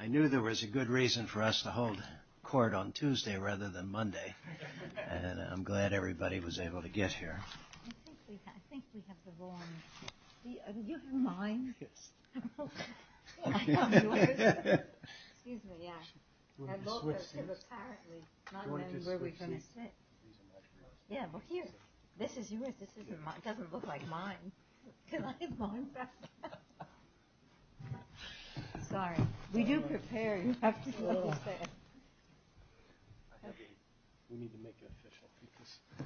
I knew there was a good reason for us to hold court on Tuesday rather than Monday. And I'm glad everybody was able to get here. Sorry, we do prepare. I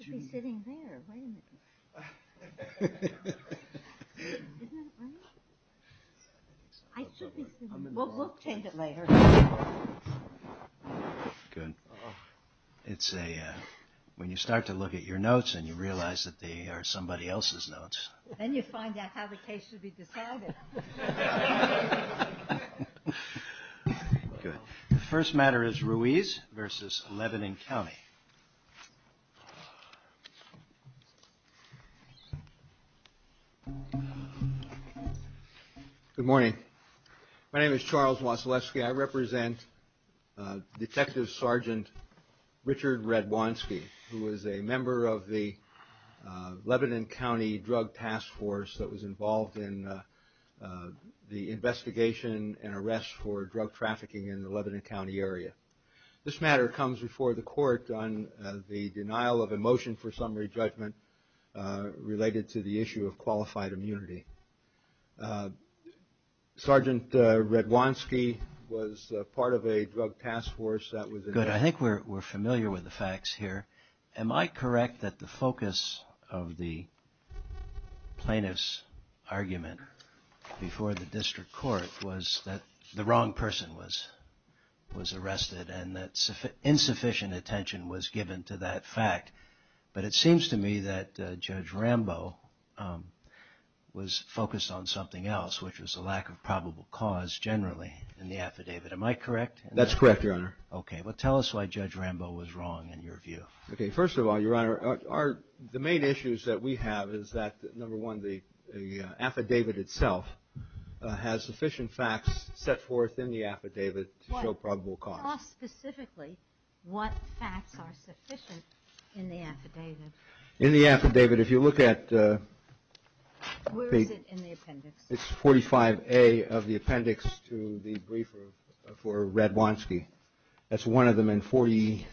should be sitting there. I should be sitting there. Good. When you start to look at your notes and you realize that they are somebody else's notes. Then you find out how the case should be decided. Good. The first matter is Ruiz versus Lebanon County. Good morning. My name is Charles Wasilewski. I represent Detective Sergeant Richard Radwanski, who is a member of the Lebanon County Drug Task Force that was involved in the investigation and arrest for drug trafficking in the Lebanon County area. This matter comes before the court on the denial of a motion for summary judgment related to the issue of qualified immunity. Sergeant Radwanski was part of a drug task force that was involved. Good. I think we're familiar with the facts here. Am I correct that the focus of the plaintiff's argument before the district court was that the wrong person was arrested and that insufficient attention was given to that fact? But it seems to me that Judge Rambo was focused on something else, which was a lack of probable cause generally in the affidavit. Am I correct? That's correct, Your Honor. Okay. Well, tell us why Judge Rambo was wrong in your view. Okay. First of all, Your Honor, the main issues that we have is that, number one, the affidavit itself has sufficient facts set forth in the affidavit to show probable cause. Tell us specifically what facts are sufficient in the affidavit. In the affidavit, if you look at... Where is it in the appendix? It's 45A of the appendix to the briefer for Radwanski. That's one of them in 40...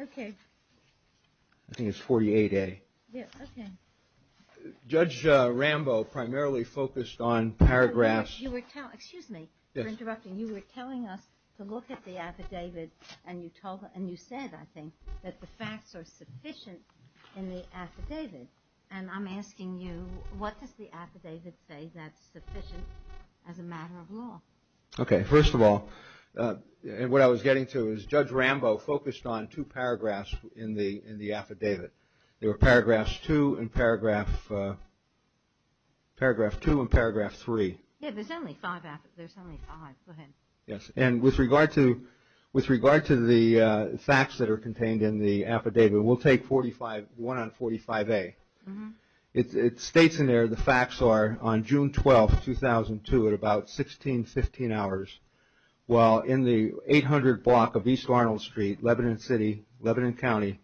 Okay. I think it's 48A. Yeah, okay. Judge Rambo primarily focused on paragraphs... and you said, I think, that the facts are sufficient in the affidavit. And I'm asking you, what does the affidavit say that's sufficient as a matter of law? Okay. First of all, what I was getting to is Judge Rambo focused on two paragraphs in the affidavit. There were paragraph two and paragraph three. Yeah, but there's only five. There's only five. Go ahead. Yes, and with regard to the facts that are contained in the affidavit, we'll take one on 45A. It states in there the facts are on June 12, 2002, at about 1615 hours, while in the 800 block of East Arnold Street, Lebanon City, Lebanon County,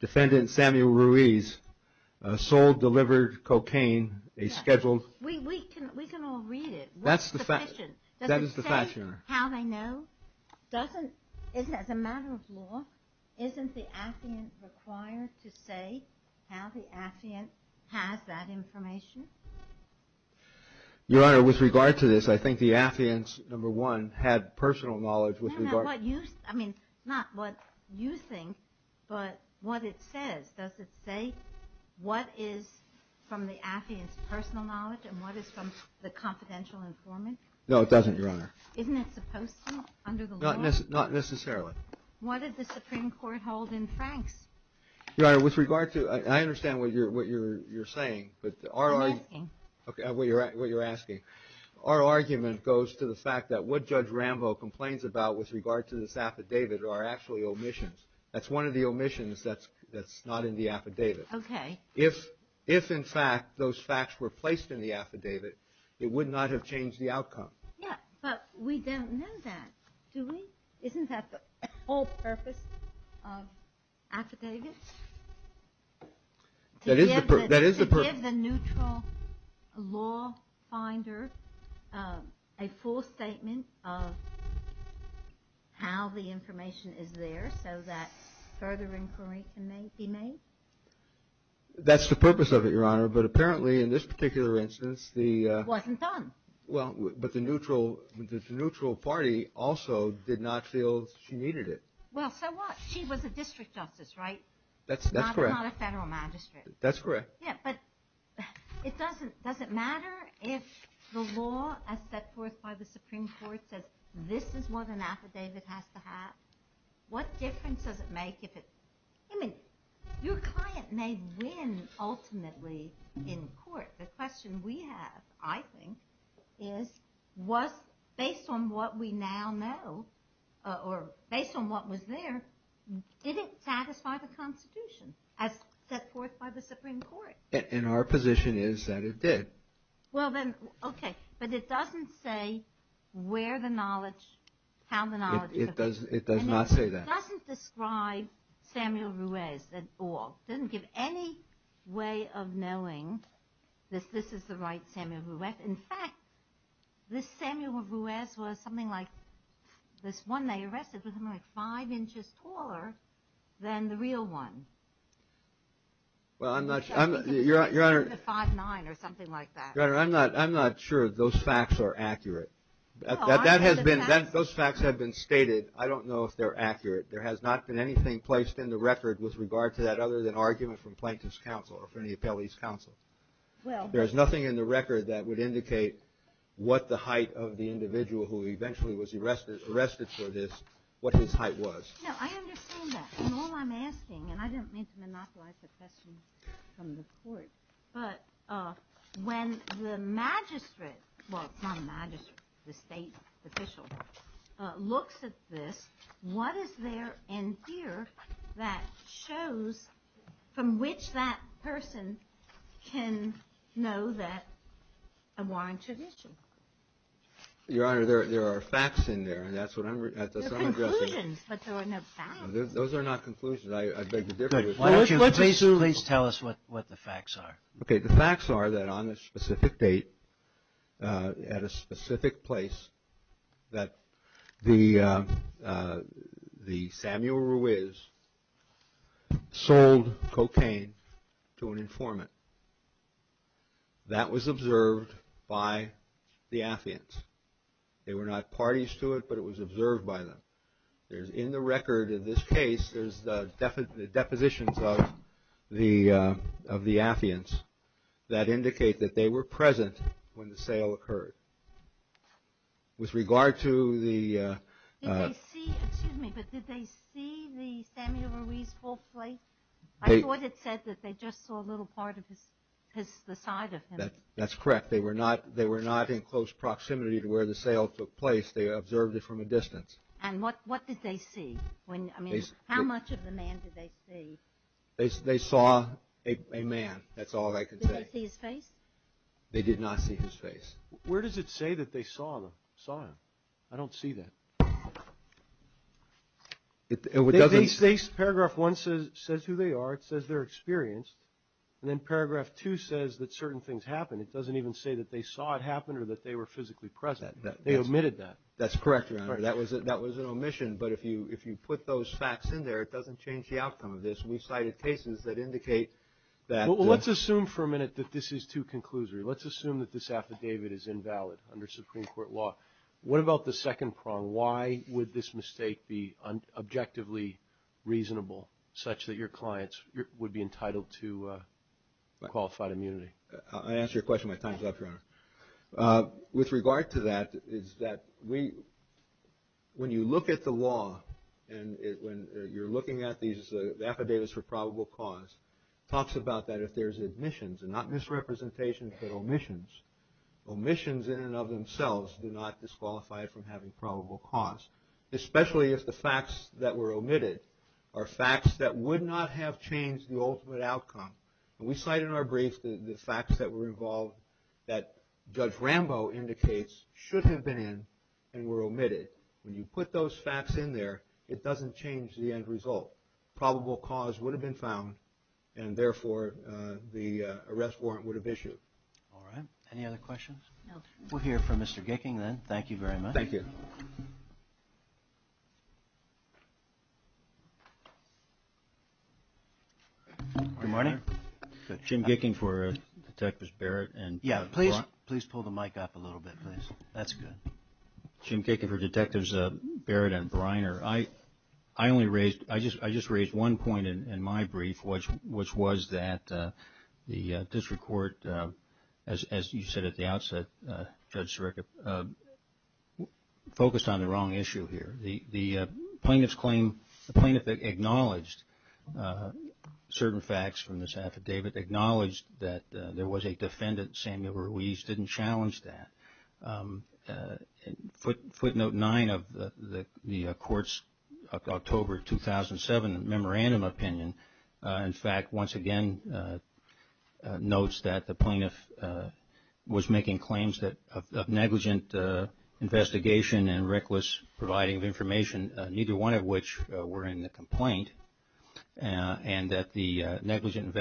defendant Samuel Ruiz sold, delivered cocaine, a scheduled... We can all read it. That's the facts. That is the facts, Your Honor. Doesn't it say how they know? As a matter of law, isn't the affiant required to say how the affiant has that information? Your Honor, with regard to this, I think the affiant, number one, had personal knowledge with regard... No, no, what you... I mean, not what you think, but what it says. Does it say what is from the affiant's personal knowledge and what is from the confidential informant? No, it doesn't, Your Honor. Isn't it supposed to under the law? Not necessarily. What does the Supreme Court hold in Franks? Your Honor, with regard to... I understand what you're saying, but our... I'm asking. Okay, what you're asking. Our argument goes to the fact that what Judge Rambo complains about with regard to this affidavit are actually omissions. That's one of the omissions that's not in the affidavit. Okay. If, in fact, those facts were placed in the affidavit, it would not have changed the outcome. Yeah, but we don't know that, do we? Isn't that the whole purpose of affidavits? That is the purpose. Would you give the neutral law finder a full statement of how the information is there so that further inquiry can be made? That's the purpose of it, Your Honor, but apparently in this particular instance the... It wasn't done. Well, but the neutral party also did not feel she needed it. Well, so what? She was a district justice, right? That's correct. Not a federal magistrate. That's correct. Yeah, but does it matter if the law as set forth by the Supreme Court says this is what an affidavit has to have? What difference does it make if it... I mean, your client may win ultimately in court. The question we have, I think, is based on what we now know or based on what was there, did it satisfy the Constitution as set forth by the Supreme Court? And our position is that it did. Well, then, okay, but it doesn't say where the knowledge, how the knowledge... It does not say that. And it doesn't describe Samuel Ruiz at all. It doesn't give any way of knowing that this is the right Samuel Ruiz. In fact, this Samuel Ruiz was something like... This one they arrested was something like five inches taller than the real one. Well, I'm not sure... Five nine or something like that. Your Honor, I'm not sure those facts are accurate. Those facts have been stated. I don't know if they're accurate. There has not been anything placed in the record with regard to that other than argument from Plaintiff's Counsel or from the Appellee's Counsel. There is nothing in the record that would indicate what the height of the individual who eventually was arrested for this, what his height was. No, I understand that. And all I'm asking, and I didn't mean to monopolize the questions from the Court, but when the magistrate, well, it's not a magistrate, the state official, looks at this, what is there in here that shows from which that person can know that a warrant should issue? Your Honor, there are facts in there, and that's what I'm... There are conclusions, but there are no facts. Those are not conclusions. I beg to differ. Please tell us what the facts are. Okay, the facts are that on a specific date, at a specific place, that the Samuel Ruiz sold cocaine to an informant. That was observed by the Affians. They were not parties to it, but it was observed by them. In the record of this case, there's the depositions of the Affians that indicate that they were present when the sale occurred. With regard to the... Excuse me, but did they see the Samuel Ruiz whole plate? I thought it said that they just saw a little part of the side of him. That's correct. They were not in close proximity to where the sale took place. They observed it from a distance. And what did they see? I mean, how much of the man did they see? They saw a man. That's all I can say. Did they see his face? They did not see his face. Where does it say that they saw him? I don't see that. Paragraph 1 says who they are. It says they're experienced. And then Paragraph 2 says that certain things happened. It doesn't even say that they saw it happen or that they were physically present. They omitted that. That's correct, Your Honor. That was an omission. But if you put those facts in there, it doesn't change the outcome of this. We cited cases that indicate that... Well, let's assume for a minute that this is too conclusory. Let's assume that this affidavit is invalid under Supreme Court law. What about the second prong? Why would this mistake be objectively reasonable, such that your clients would be entitled to qualified immunity? I'll answer your question when my time is up, Your Honor. With regard to that, when you look at the law and you're looking at these affidavits for probable cause, it talks about that if there's omissions, and not misrepresentations, but omissions. Omissions in and of themselves do not disqualify from having probable cause, especially if the facts that were omitted are facts that would not have changed the ultimate outcome. And we cite in our brief the facts that were involved that Judge Rambo indicates should have been in and were omitted. When you put those facts in there, it doesn't change the end result. Probable cause would have been found, and therefore the arrest warrant would have issued. All right. Any other questions? No, sir. We'll hear from Mr. Gicking then. Thank you very much. Thank you. Good morning. Good morning. Jim Gicking for Detectives Barrett and Breiner. Yeah, please pull the mic up a little bit, please. That's good. Jim Gicking for Detectives Barrett and Breiner. I just raised one point in my brief, which was that the district court, as you said at the outset, Judge Sirica, focused on the wrong issue here. The plaintiff acknowledged certain facts from this affidavit, acknowledged that there was a defendant, Samuel Ruiz, didn't challenge that. Footnote 9 of the court's October 2007 memorandum opinion, in fact, once again notes that the plaintiff was making claims of negligent investigation and reckless providing of information, neither one of which were in the complaint, and that the negligent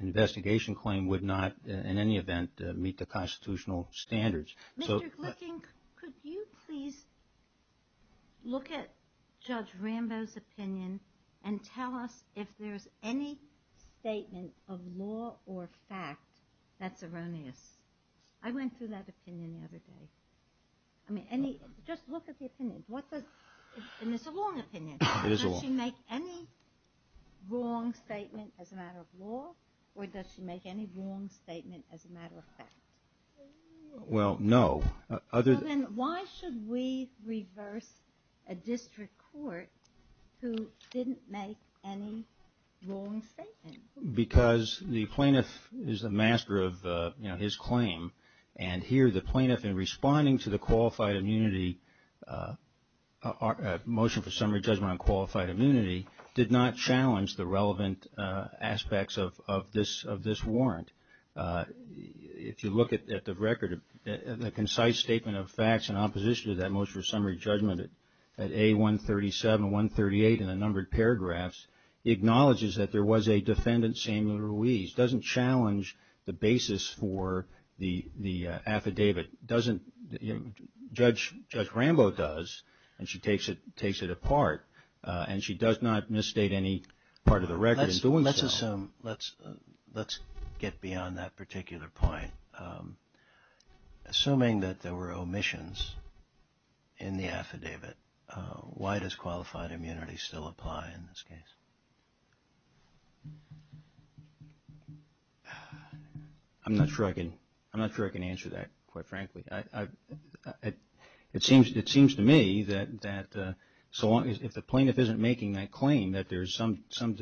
investigation claim would not, in any event, meet the constitutional standards. Mr. Gicking, could you please look at Judge Rambo's opinion and tell us if there's any statement of law or fact that's erroneous? I went through that opinion the other day. Just look at the opinion. It's a wrong opinion. Does she make any wrong statement as a matter of law, or does she make any wrong statement as a matter of fact? Well, no. Then why should we reverse a district court who didn't make any wrong statement? Because the plaintiff is the master of his claim, and here the plaintiff in responding to the motion for summary judgment on qualified immunity did not challenge the relevant aspects of this warrant. If you look at the record, the concise statement of facts in opposition to that motion for summary judgment at A137, 138 in the numbered paragraphs, acknowledges that there was a defendant, Samuel Ruiz, doesn't challenge the basis for the affidavit. Judge Rambo does, and she takes it apart, and she does not misstate any part of the record in doing so. Let's get beyond that particular point. Assuming that there were omissions in the affidavit, why does qualified immunity still apply in this case? I'm not sure I can answer that, quite frankly. It seems to me that if the plaintiff isn't making that claim, that there's something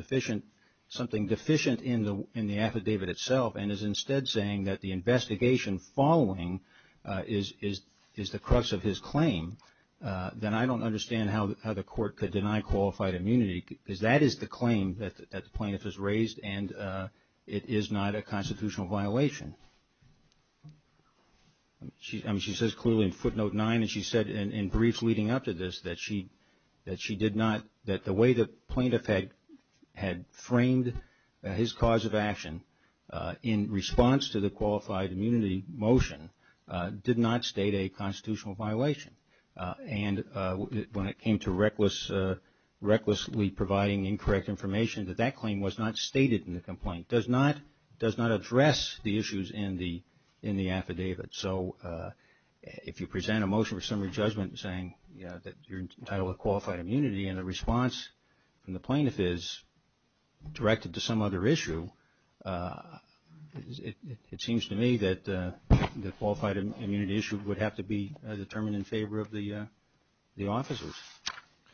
deficient in the affidavit itself and is instead saying that the investigation following is the crux of his claim, then I don't understand how the court could deny qualified immunity, because that is the claim that the plaintiff has raised, and it is not a constitutional violation. She says clearly in footnote nine, and she said in brief leading up to this, that the way the plaintiff had framed his cause of action in response to the qualified immunity motion did not state a constitutional violation. And when it came to recklessly providing incorrect information, that that claim was not stated in the complaint. It does not address the issues in the affidavit. So if you present a motion for summary judgment saying that you're entitled to qualified immunity and the response from the plaintiff is directed to some other issue, it seems to me that the qualified immunity issue would have to be determined in favor of the officers,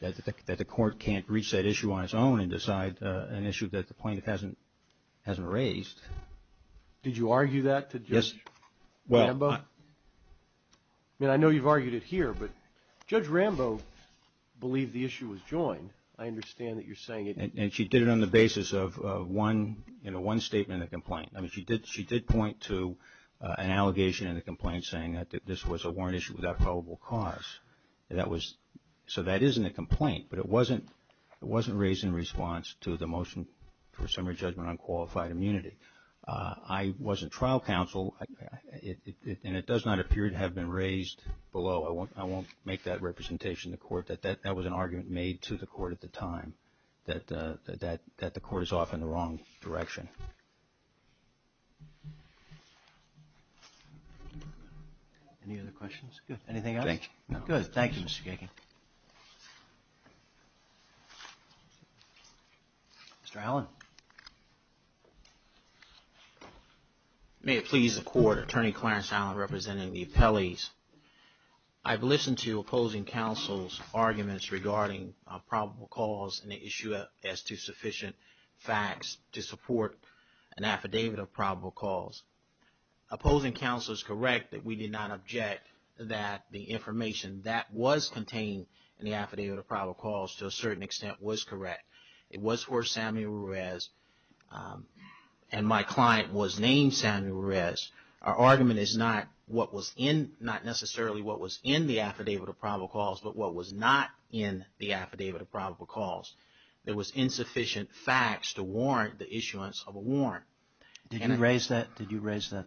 that the court can't reach that issue on its own and decide an issue that the plaintiff hasn't raised. Did you argue that to Judge Rambo? I mean, I know you've argued it here, but Judge Rambo believed the issue was joined. I understand that you're saying it. And she did it on the basis of one statement in the complaint. I mean, she did point to an allegation in the complaint saying that this was a warrant issue without probable cause. So that is in the complaint, but it wasn't raised in response to the motion for summary judgment on qualified immunity. I was in trial counsel, and it does not appear to have been raised below. I won't make that representation to court. That was an argument made to the court at the time, that the court is off in the wrong direction. Any other questions? Good. Anything else? No. Good. Thank you, Mr. Geichen. Mr. Allen. May it please the court, Attorney Clarence Allen representing the appellees. I've listened to opposing counsel's arguments regarding probable cause and the issue as to sufficient facts to support an affidavit of probable cause. Opposing counsel is correct that we did not object that the information that was contained in the affidavit of probable cause to a certain extent was correct. It was for Samuel Ruiz, and my client was named Samuel Ruiz. Our argument is not necessarily what was in the affidavit of probable cause, but what was not in the affidavit of probable cause. There was insufficient facts to warrant the issuance of a warrant. Did you raise that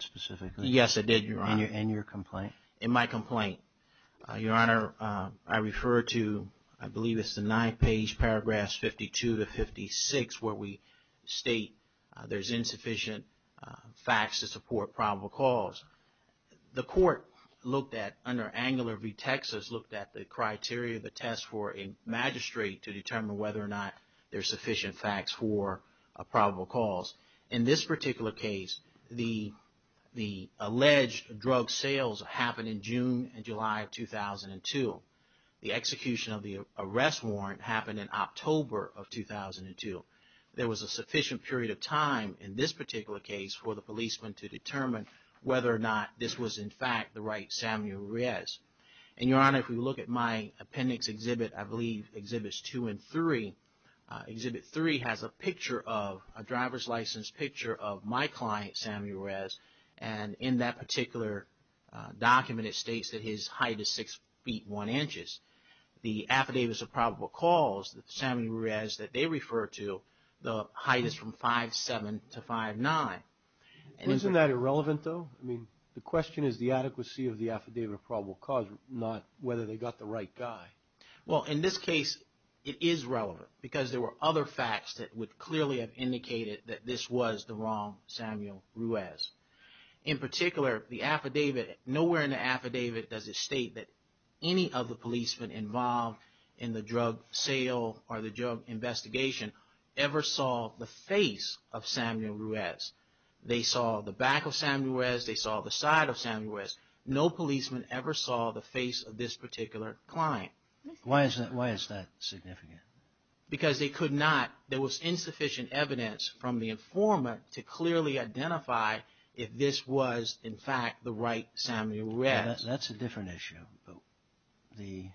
specifically? Yes, I did, Your Honor. In your complaint? In my complaint. Your Honor, I refer to, I believe it's the ninth page, paragraphs 52 to 56, where we state there's insufficient facts to support probable cause. The court looked at, under Angular v. Texas, looked at the criteria of the test for a magistrate to determine whether or not there's sufficient facts for a probable cause. In this particular case, the alleged drug sales happened in June and July of 2002. The execution of the arrest warrant happened in October of 2002. There was a sufficient period of time in this particular case for the policeman to determine whether or not this was, in fact, the right Samuel Ruiz. And, Your Honor, if we look at my appendix exhibit, I believe Exhibits 2 and 3, Exhibit 3 has a picture of, a driver's license picture of my client, Samuel Ruiz. And in that particular document, it states that his height is 6 feet 1 inches. The affidavit of probable cause, Samuel Ruiz, that they refer to, the height is from 5'7 to 5'9. Isn't that irrelevant, though? I mean, the question is the adequacy of the affidavit of probable cause, not whether they got the right guy. Well, in this case, it is relevant because there were other facts that would clearly have indicated that this was the wrong Samuel Ruiz. In particular, the affidavit, nowhere in the affidavit does it state that any of the policemen involved in the drug sale or the drug investigation ever saw the face of Samuel Ruiz. They saw the back of Samuel Ruiz, they saw the side of Samuel Ruiz. No policeman ever saw the face of this particular client. Why is that significant? Because they could not, there was insufficient evidence from the informant to clearly identify if this was, in fact, the right Samuel Ruiz. That's a different issue.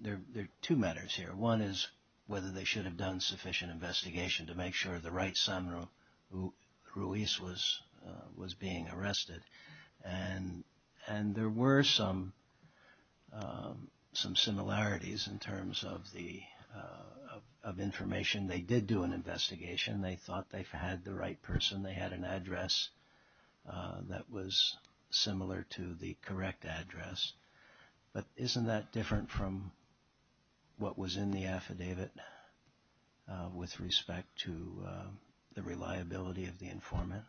There are two matters here. One is whether they should have done sufficient investigation to make sure the right Samuel Ruiz was being arrested. And there were some similarities in terms of information. They did do an investigation. They thought they had the right person. They had an address that was similar to the correct address. But isn't that different from what was in the affidavit with respect to the reliability of the informant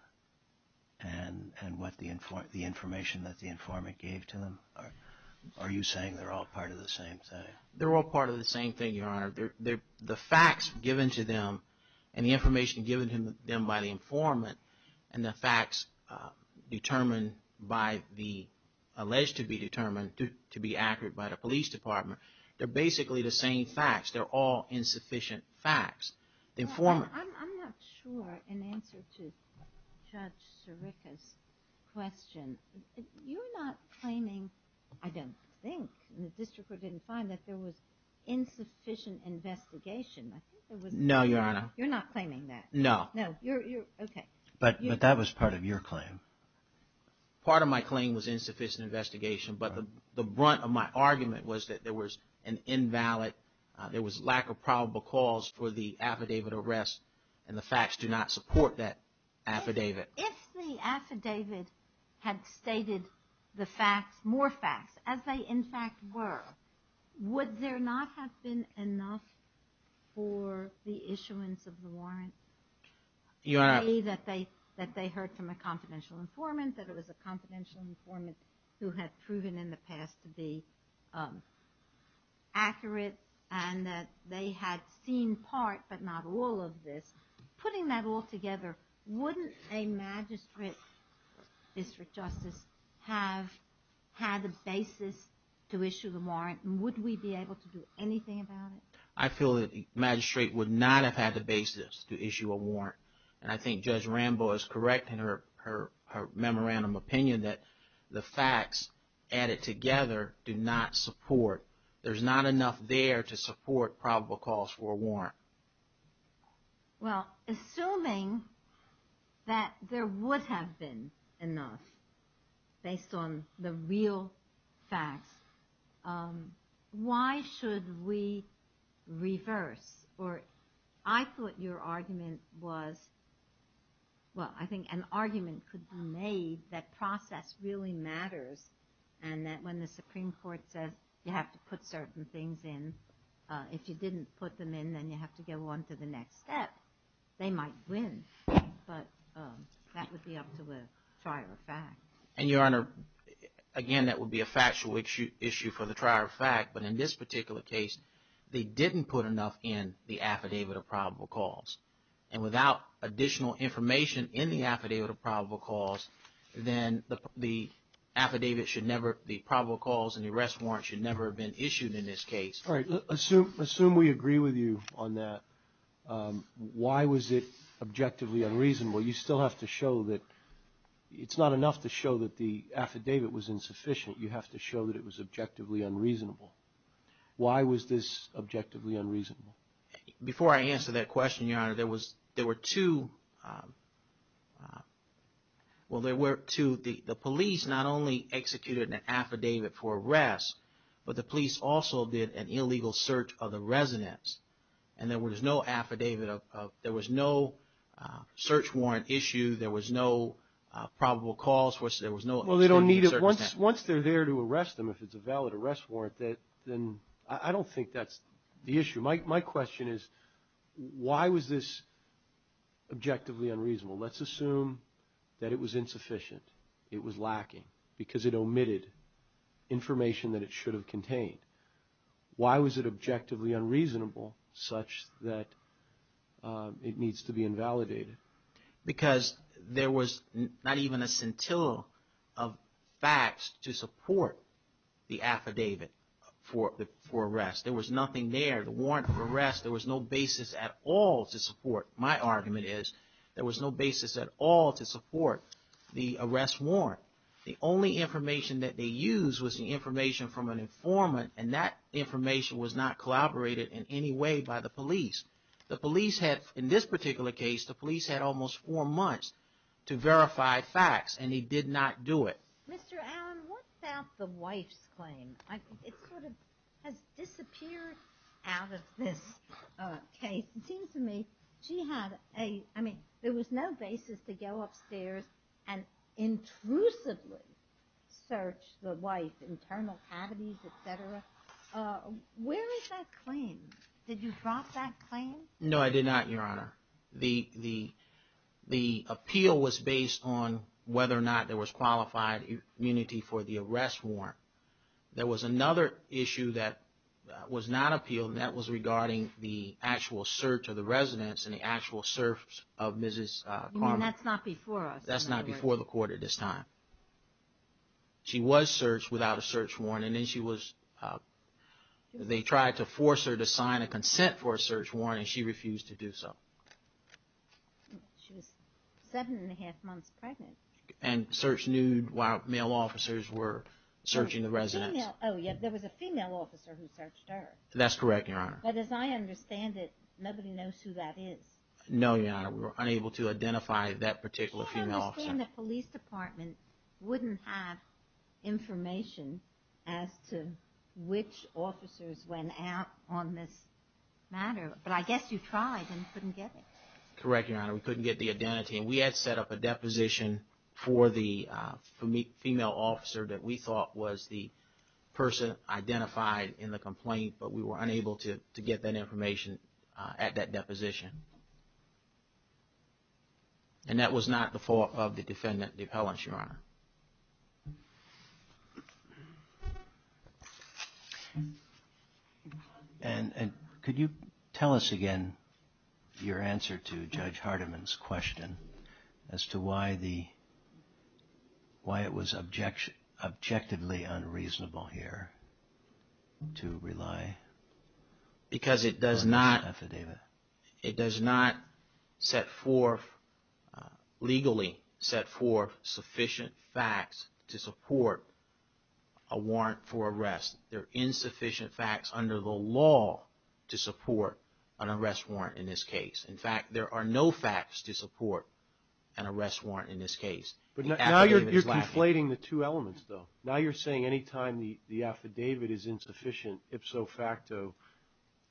and what the information that the informant gave to them? Are you saying they're all part of the same thing? The facts given to them and the information given to them by the informant and the facts determined by the, alleged to be determined to be accurate by the police department, they're basically the same facts. They're all insufficient facts. I'm not sure, in answer to Judge Sirica's question, you're not claiming, I don't think, the district court didn't find that there was insufficient investigation. No, Your Honor. You're not claiming that. No. No, you're, okay. But that was part of your claim. Part of my claim was insufficient investigation. But the brunt of my argument was that there was an invalid, there was lack of probable cause for the affidavit arrest and the facts do not support that affidavit. If the affidavit had stated the facts, more facts, as they in fact were, would there not have been enough for the issuance of the warrant? Your Honor. A, that they heard from a confidential informant, that it was a confidential informant who had proven in the past to be accurate and that they had seen part but not all of this. Putting that all together, wouldn't a magistrate, district justice, have had the basis to issue the warrant? Would we be able to do anything about it? I feel that the magistrate would not have had the basis to issue a warrant. And I think Judge Rambo is correct in her memorandum opinion that the facts added together do not support. There's not enough there to support probable cause for a warrant. Well, assuming that there would have been enough based on the real facts, why should we reverse? Or I thought your argument was, well, I think an argument could be made that process really matters and that when the Supreme Court says you have to put certain things in, if you didn't put them in, then you have to go on to the next step. They might win, but that would be up to the trier of fact. And, Your Honor, again, that would be a factual issue for the trier of fact, but in this particular case, they didn't put enough in the affidavit of probable cause. And without additional information in the affidavit of probable cause, then the affidavit should never, the probable cause and the arrest warrant should never have been issued in this case. All right. Assume we agree with you on that. Why was it objectively unreasonable? You still have to show that it's not enough to show that the affidavit was insufficient. You have to show that it was objectively unreasonable. Why was this objectively unreasonable? Before I answer that question, Your Honor, there were two. Well, there were two. The police not only executed an affidavit for arrest, but the police also did an illegal search of the residence. And there was no affidavit of, there was no search warrant issue. There was no probable cause. Well, they don't need it. Once they're there to arrest them, if it's a valid arrest warrant, then I don't think that's the issue. My question is, why was this objectively unreasonable? Let's assume that it was insufficient. It was lacking because it omitted information that it should have contained. Why was it objectively unreasonable such that it needs to be invalidated? Because there was not even a scintilla of facts to support the affidavit for arrest. There was nothing there, the warrant for arrest. There was no basis at all to support, my argument is, there was no basis at all to support the arrest warrant. The only information that they used was the information from an informant, and that information was not collaborated in any way by the police. The police had, in this particular case, the police had almost four months to verify facts, and they did not do it. Mr. Allen, what about the wife's claim? It sort of has disappeared out of this case. It seems to me she had a, I mean, there was no basis to go upstairs and intrusively search the wife's internal cavities, et cetera. Where is that claim? Did you drop that claim? No, I did not, Your Honor. The appeal was based on whether or not there was qualified immunity for the arrest warrant. There was another issue that was not appealed, and that was regarding the actual search of the residence and the actual search of Mrs. Carman. That's not before us. That's not before the court at this time. She was searched without a search warrant, and then she was, they tried to force her to sign a consent for a search warrant, and she refused to do so. She was seven and a half months pregnant. And searched nude while male officers were searching the residence. Oh, yeah, there was a female officer who searched her. That's correct, Your Honor. But as I understand it, nobody knows who that is. No, Your Honor, we were unable to identify that particular female officer. So you're saying the police department wouldn't have information as to which officers went out on this matter, but I guess you tried and couldn't get it. Correct, Your Honor. We couldn't get the identity, and we had set up a deposition for the female officer that we thought was the person identified in the complaint, but we were unable to get that information at that deposition. And that was not the fault of the defendant, the appellant, Your Honor. And could you tell us again your answer to Judge Hardiman's question as to why it was objectively unreasonable here to rely on this affidavit? Because it does not legally set forth sufficient facts to support a warrant for arrest. There are insufficient facts under the law to support an arrest warrant in this case. In fact, there are no facts to support an arrest warrant in this case. But now you're conflating the two elements, though. Now you're saying any time the affidavit is insufficient, ipso facto,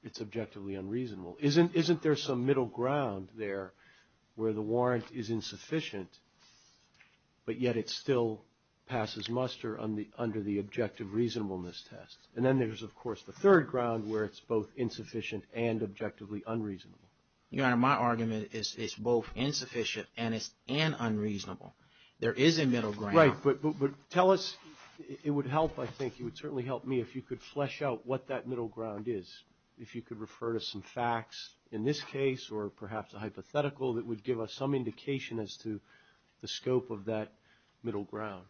it's objectively unreasonable. Isn't there some middle ground there where the warrant is insufficient, but yet it still passes muster under the objective reasonableness test? And then there's, of course, the third ground where it's both insufficient and objectively unreasonable. Your Honor, my argument is it's both insufficient and unreasonable. There is a middle ground. Right, but tell us. It would help, I think. It would certainly help me if you could flesh out what that middle ground is, if you could refer to some facts in this case or perhaps a hypothetical that would give us some indication as to the scope of that middle ground.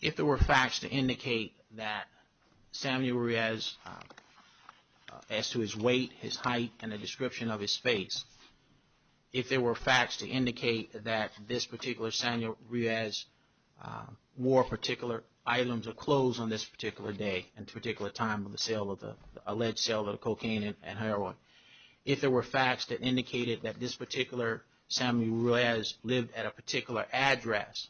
If there were facts to indicate that Samuel Ruiz, as to his weight, his height, and the description of his face, if there were facts to indicate that this particular Samuel Ruiz wore particular items or clothes on this particular day and particular time of the alleged sale of cocaine and heroin, if there were facts that indicated that this particular Samuel Ruiz lived at a particular address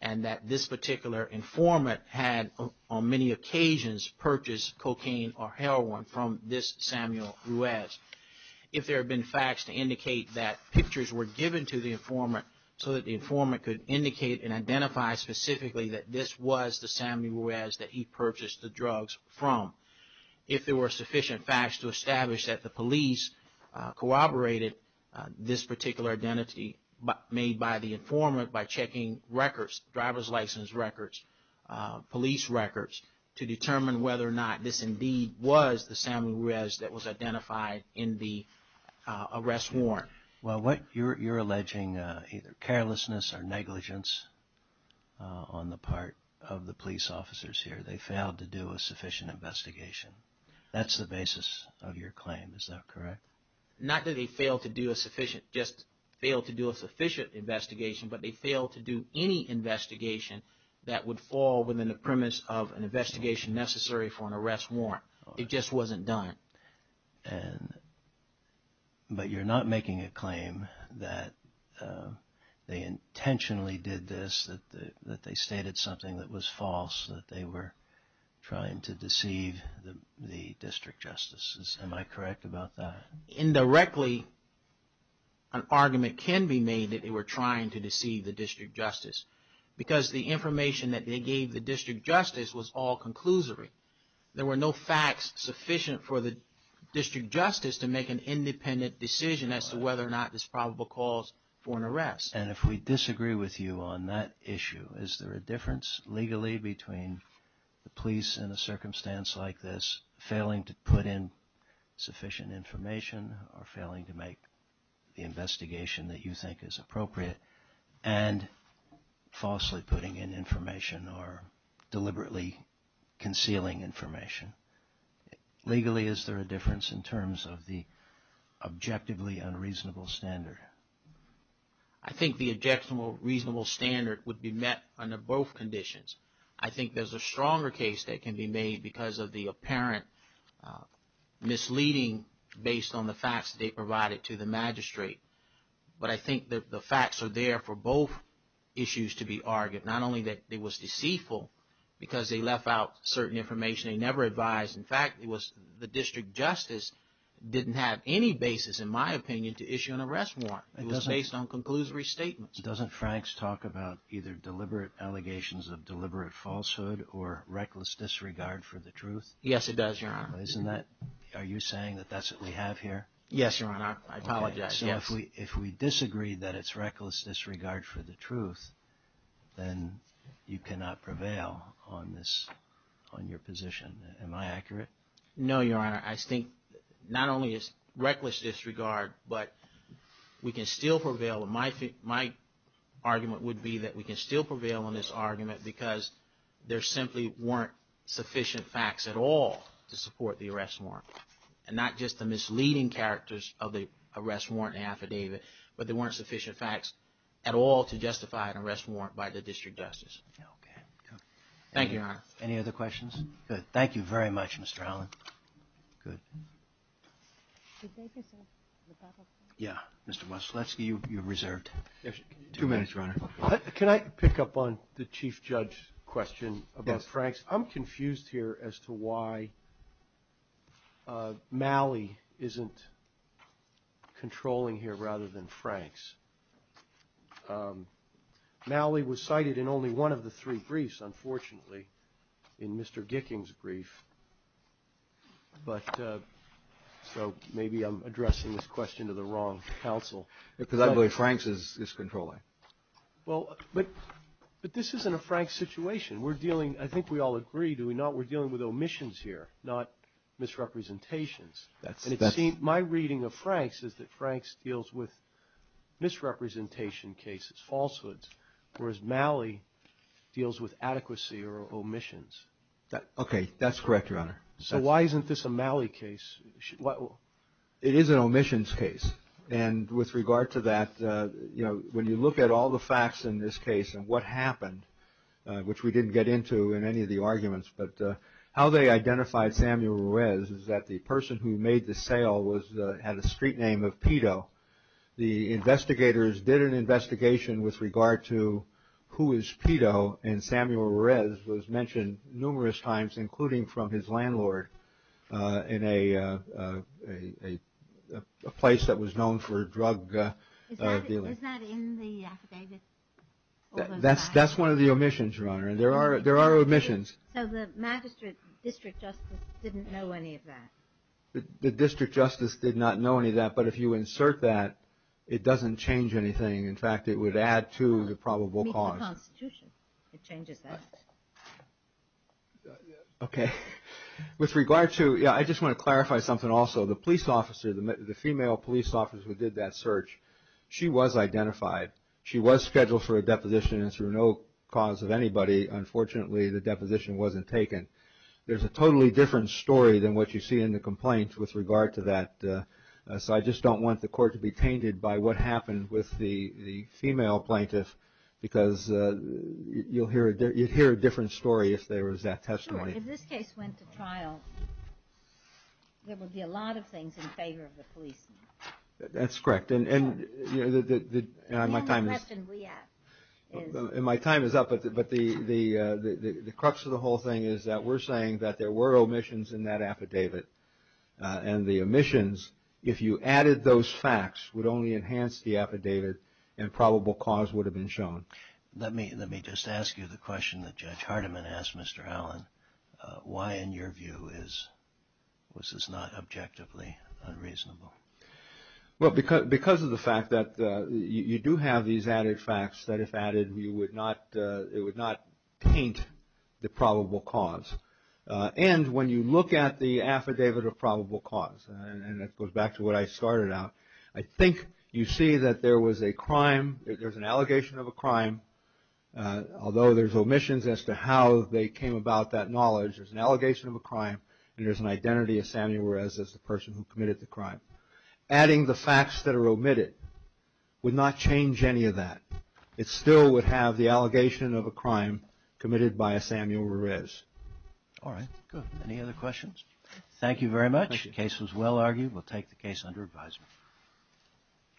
and that this particular informant had on many occasions purchased cocaine or heroin from this Samuel Ruiz, if there have been facts to indicate that pictures were given to the informant so that the informant could indicate and identify specifically that this was the Samuel Ruiz that he purchased the drugs from, if there were sufficient facts to establish that the police corroborated this particular identity made by the informant by checking records, driver's license records, police records, to determine whether or not this indeed was the Samuel Ruiz that was identified in the arrest warrant. Well, you're alleging either carelessness or negligence on the part of the police officers here. They failed to do a sufficient investigation. That's the basis of your claim. Is that correct? Not that they failed to do a sufficient, just failed to do a sufficient investigation, but they failed to do any investigation that would fall within the premise of an investigation necessary for an arrest warrant. It just wasn't done. But you're not making a claim that they intentionally did this, that they stated something that was false, that they were trying to deceive the district justices. Am I correct about that? Indirectly, an argument can be made that they were trying to deceive the district justice because the information that they gave the district justice was all conclusory. There were no facts sufficient for the district justice to make an independent decision as to whether or not this probable cause for an arrest. And if we disagree with you on that issue, is there a difference legally between the police in a circumstance like this failing to put in sufficient information or failing to make the investigation that you think is appropriate and falsely putting in information or deliberately concealing information? Legally, is there a difference in terms of the objectively unreasonable standard? I think the objectionable reasonable standard would be met under both conditions. I think there's a stronger case that can be made because of the apparent misleading based on the facts they provided to the magistrate. But I think the facts are there for both issues to be argued, not only that it was deceitful because they left out certain information they never advised. In fact, it was the district justice didn't have any basis, in my opinion, to issue an arrest warrant. It was based on conclusory statements. Doesn't Frank's talk about either deliberate allegations of deliberate falsehood or reckless disregard for the truth? Yes, it does, Your Honor. Isn't that – are you saying that that's what we have here? Yes, Your Honor. I apologize. So if we disagree that it's reckless disregard for the truth, then you cannot prevail on this – on your position. Am I accurate? No, Your Honor. I think not only is reckless disregard, but we can still prevail – my argument would be that we can still prevail on this argument because there simply weren't sufficient facts at all to support the arrest warrant. And not just the misleading characters of the arrest warrant affidavit, but there weren't sufficient facts at all to justify an arrest warrant by the district justice. Okay. Thank you, Your Honor. Any other questions? Good. Thank you very much, Mr. Holland. Good. Thank you, sir. Mr. Moszlewski, you're reserved. Two minutes, Your Honor. Can I pick up on the chief judge question about Frank's? Yes. I'm confused here as to why Malley isn't controlling here rather than Frank's. Malley was cited in only one of the three briefs, unfortunately, in Mr. Gicking's brief. But so maybe I'm addressing this question to the wrong counsel. Because I believe Frank's is controlling. Well, but this isn't a Frank situation. We're dealing – I think we all agree, do we not? We're dealing with omissions here, not misrepresentations. And it seems – my reading of Frank's is that Frank's deals with misrepresentation cases, falsehoods, whereas Malley deals with adequacy or omissions. Okay. That's correct, Your Honor. So why isn't this a Malley case? It is an omissions case. And with regard to that, you know, when you look at all the facts in this case and what happened, which we didn't get into in any of the arguments, but how they identified Samuel Ruiz is that the person who made the sale had a street name of Pito. The investigators did an investigation with regard to who is Pito, and Samuel Ruiz was mentioned numerous times, including from his landlord, in a place that was known for drug dealing. Is that in the affidavit? That's one of the omissions, Your Honor. There are omissions. So the magistrate district justice didn't know any of that? The district justice did not know any of that. But if you insert that, it doesn't change anything. In fact, it would add to the probable cause. It's in the Constitution. It changes that. Okay. With regard to, yeah, I just want to clarify something also. The police officer, the female police officer who did that search, she was identified. She was scheduled for a deposition, and through no cause of anybody, unfortunately, the deposition wasn't taken. There's a totally different story than what you see in the complaint with regard to that. So I just don't want the court to be tainted by what happened with the female plaintiff because you'd hear a different story if there was that testimony. Sure. If this case went to trial, there would be a lot of things in favor of the police. That's correct. And my time is up, but the crux of the whole thing is that we're saying that there were omissions in that affidavit. And the omissions, if you added those facts, would only enhance the affidavit and probable cause would have been shown. Let me just ask you the question that Judge Hardiman asked Mr. Allen. Why, in your view, is this not objectively unreasonable? Well, because of the fact that you do have these added facts that if added, it would not paint the probable cause. And when you look at the affidavit of probable cause, and it goes back to what I started out, I think you see that there was a crime, there's an allegation of a crime, although there's omissions as to how they came about that knowledge, there's an allegation of a crime and there's an identity of Samuel Ruiz as the person who committed the crime. Adding the facts that are omitted would not change any of that. It still would have the allegation of a crime committed by a Samuel Ruiz. All right. Good. Any other questions? Thank you very much. The case was well argued. We'll take the case under advisement.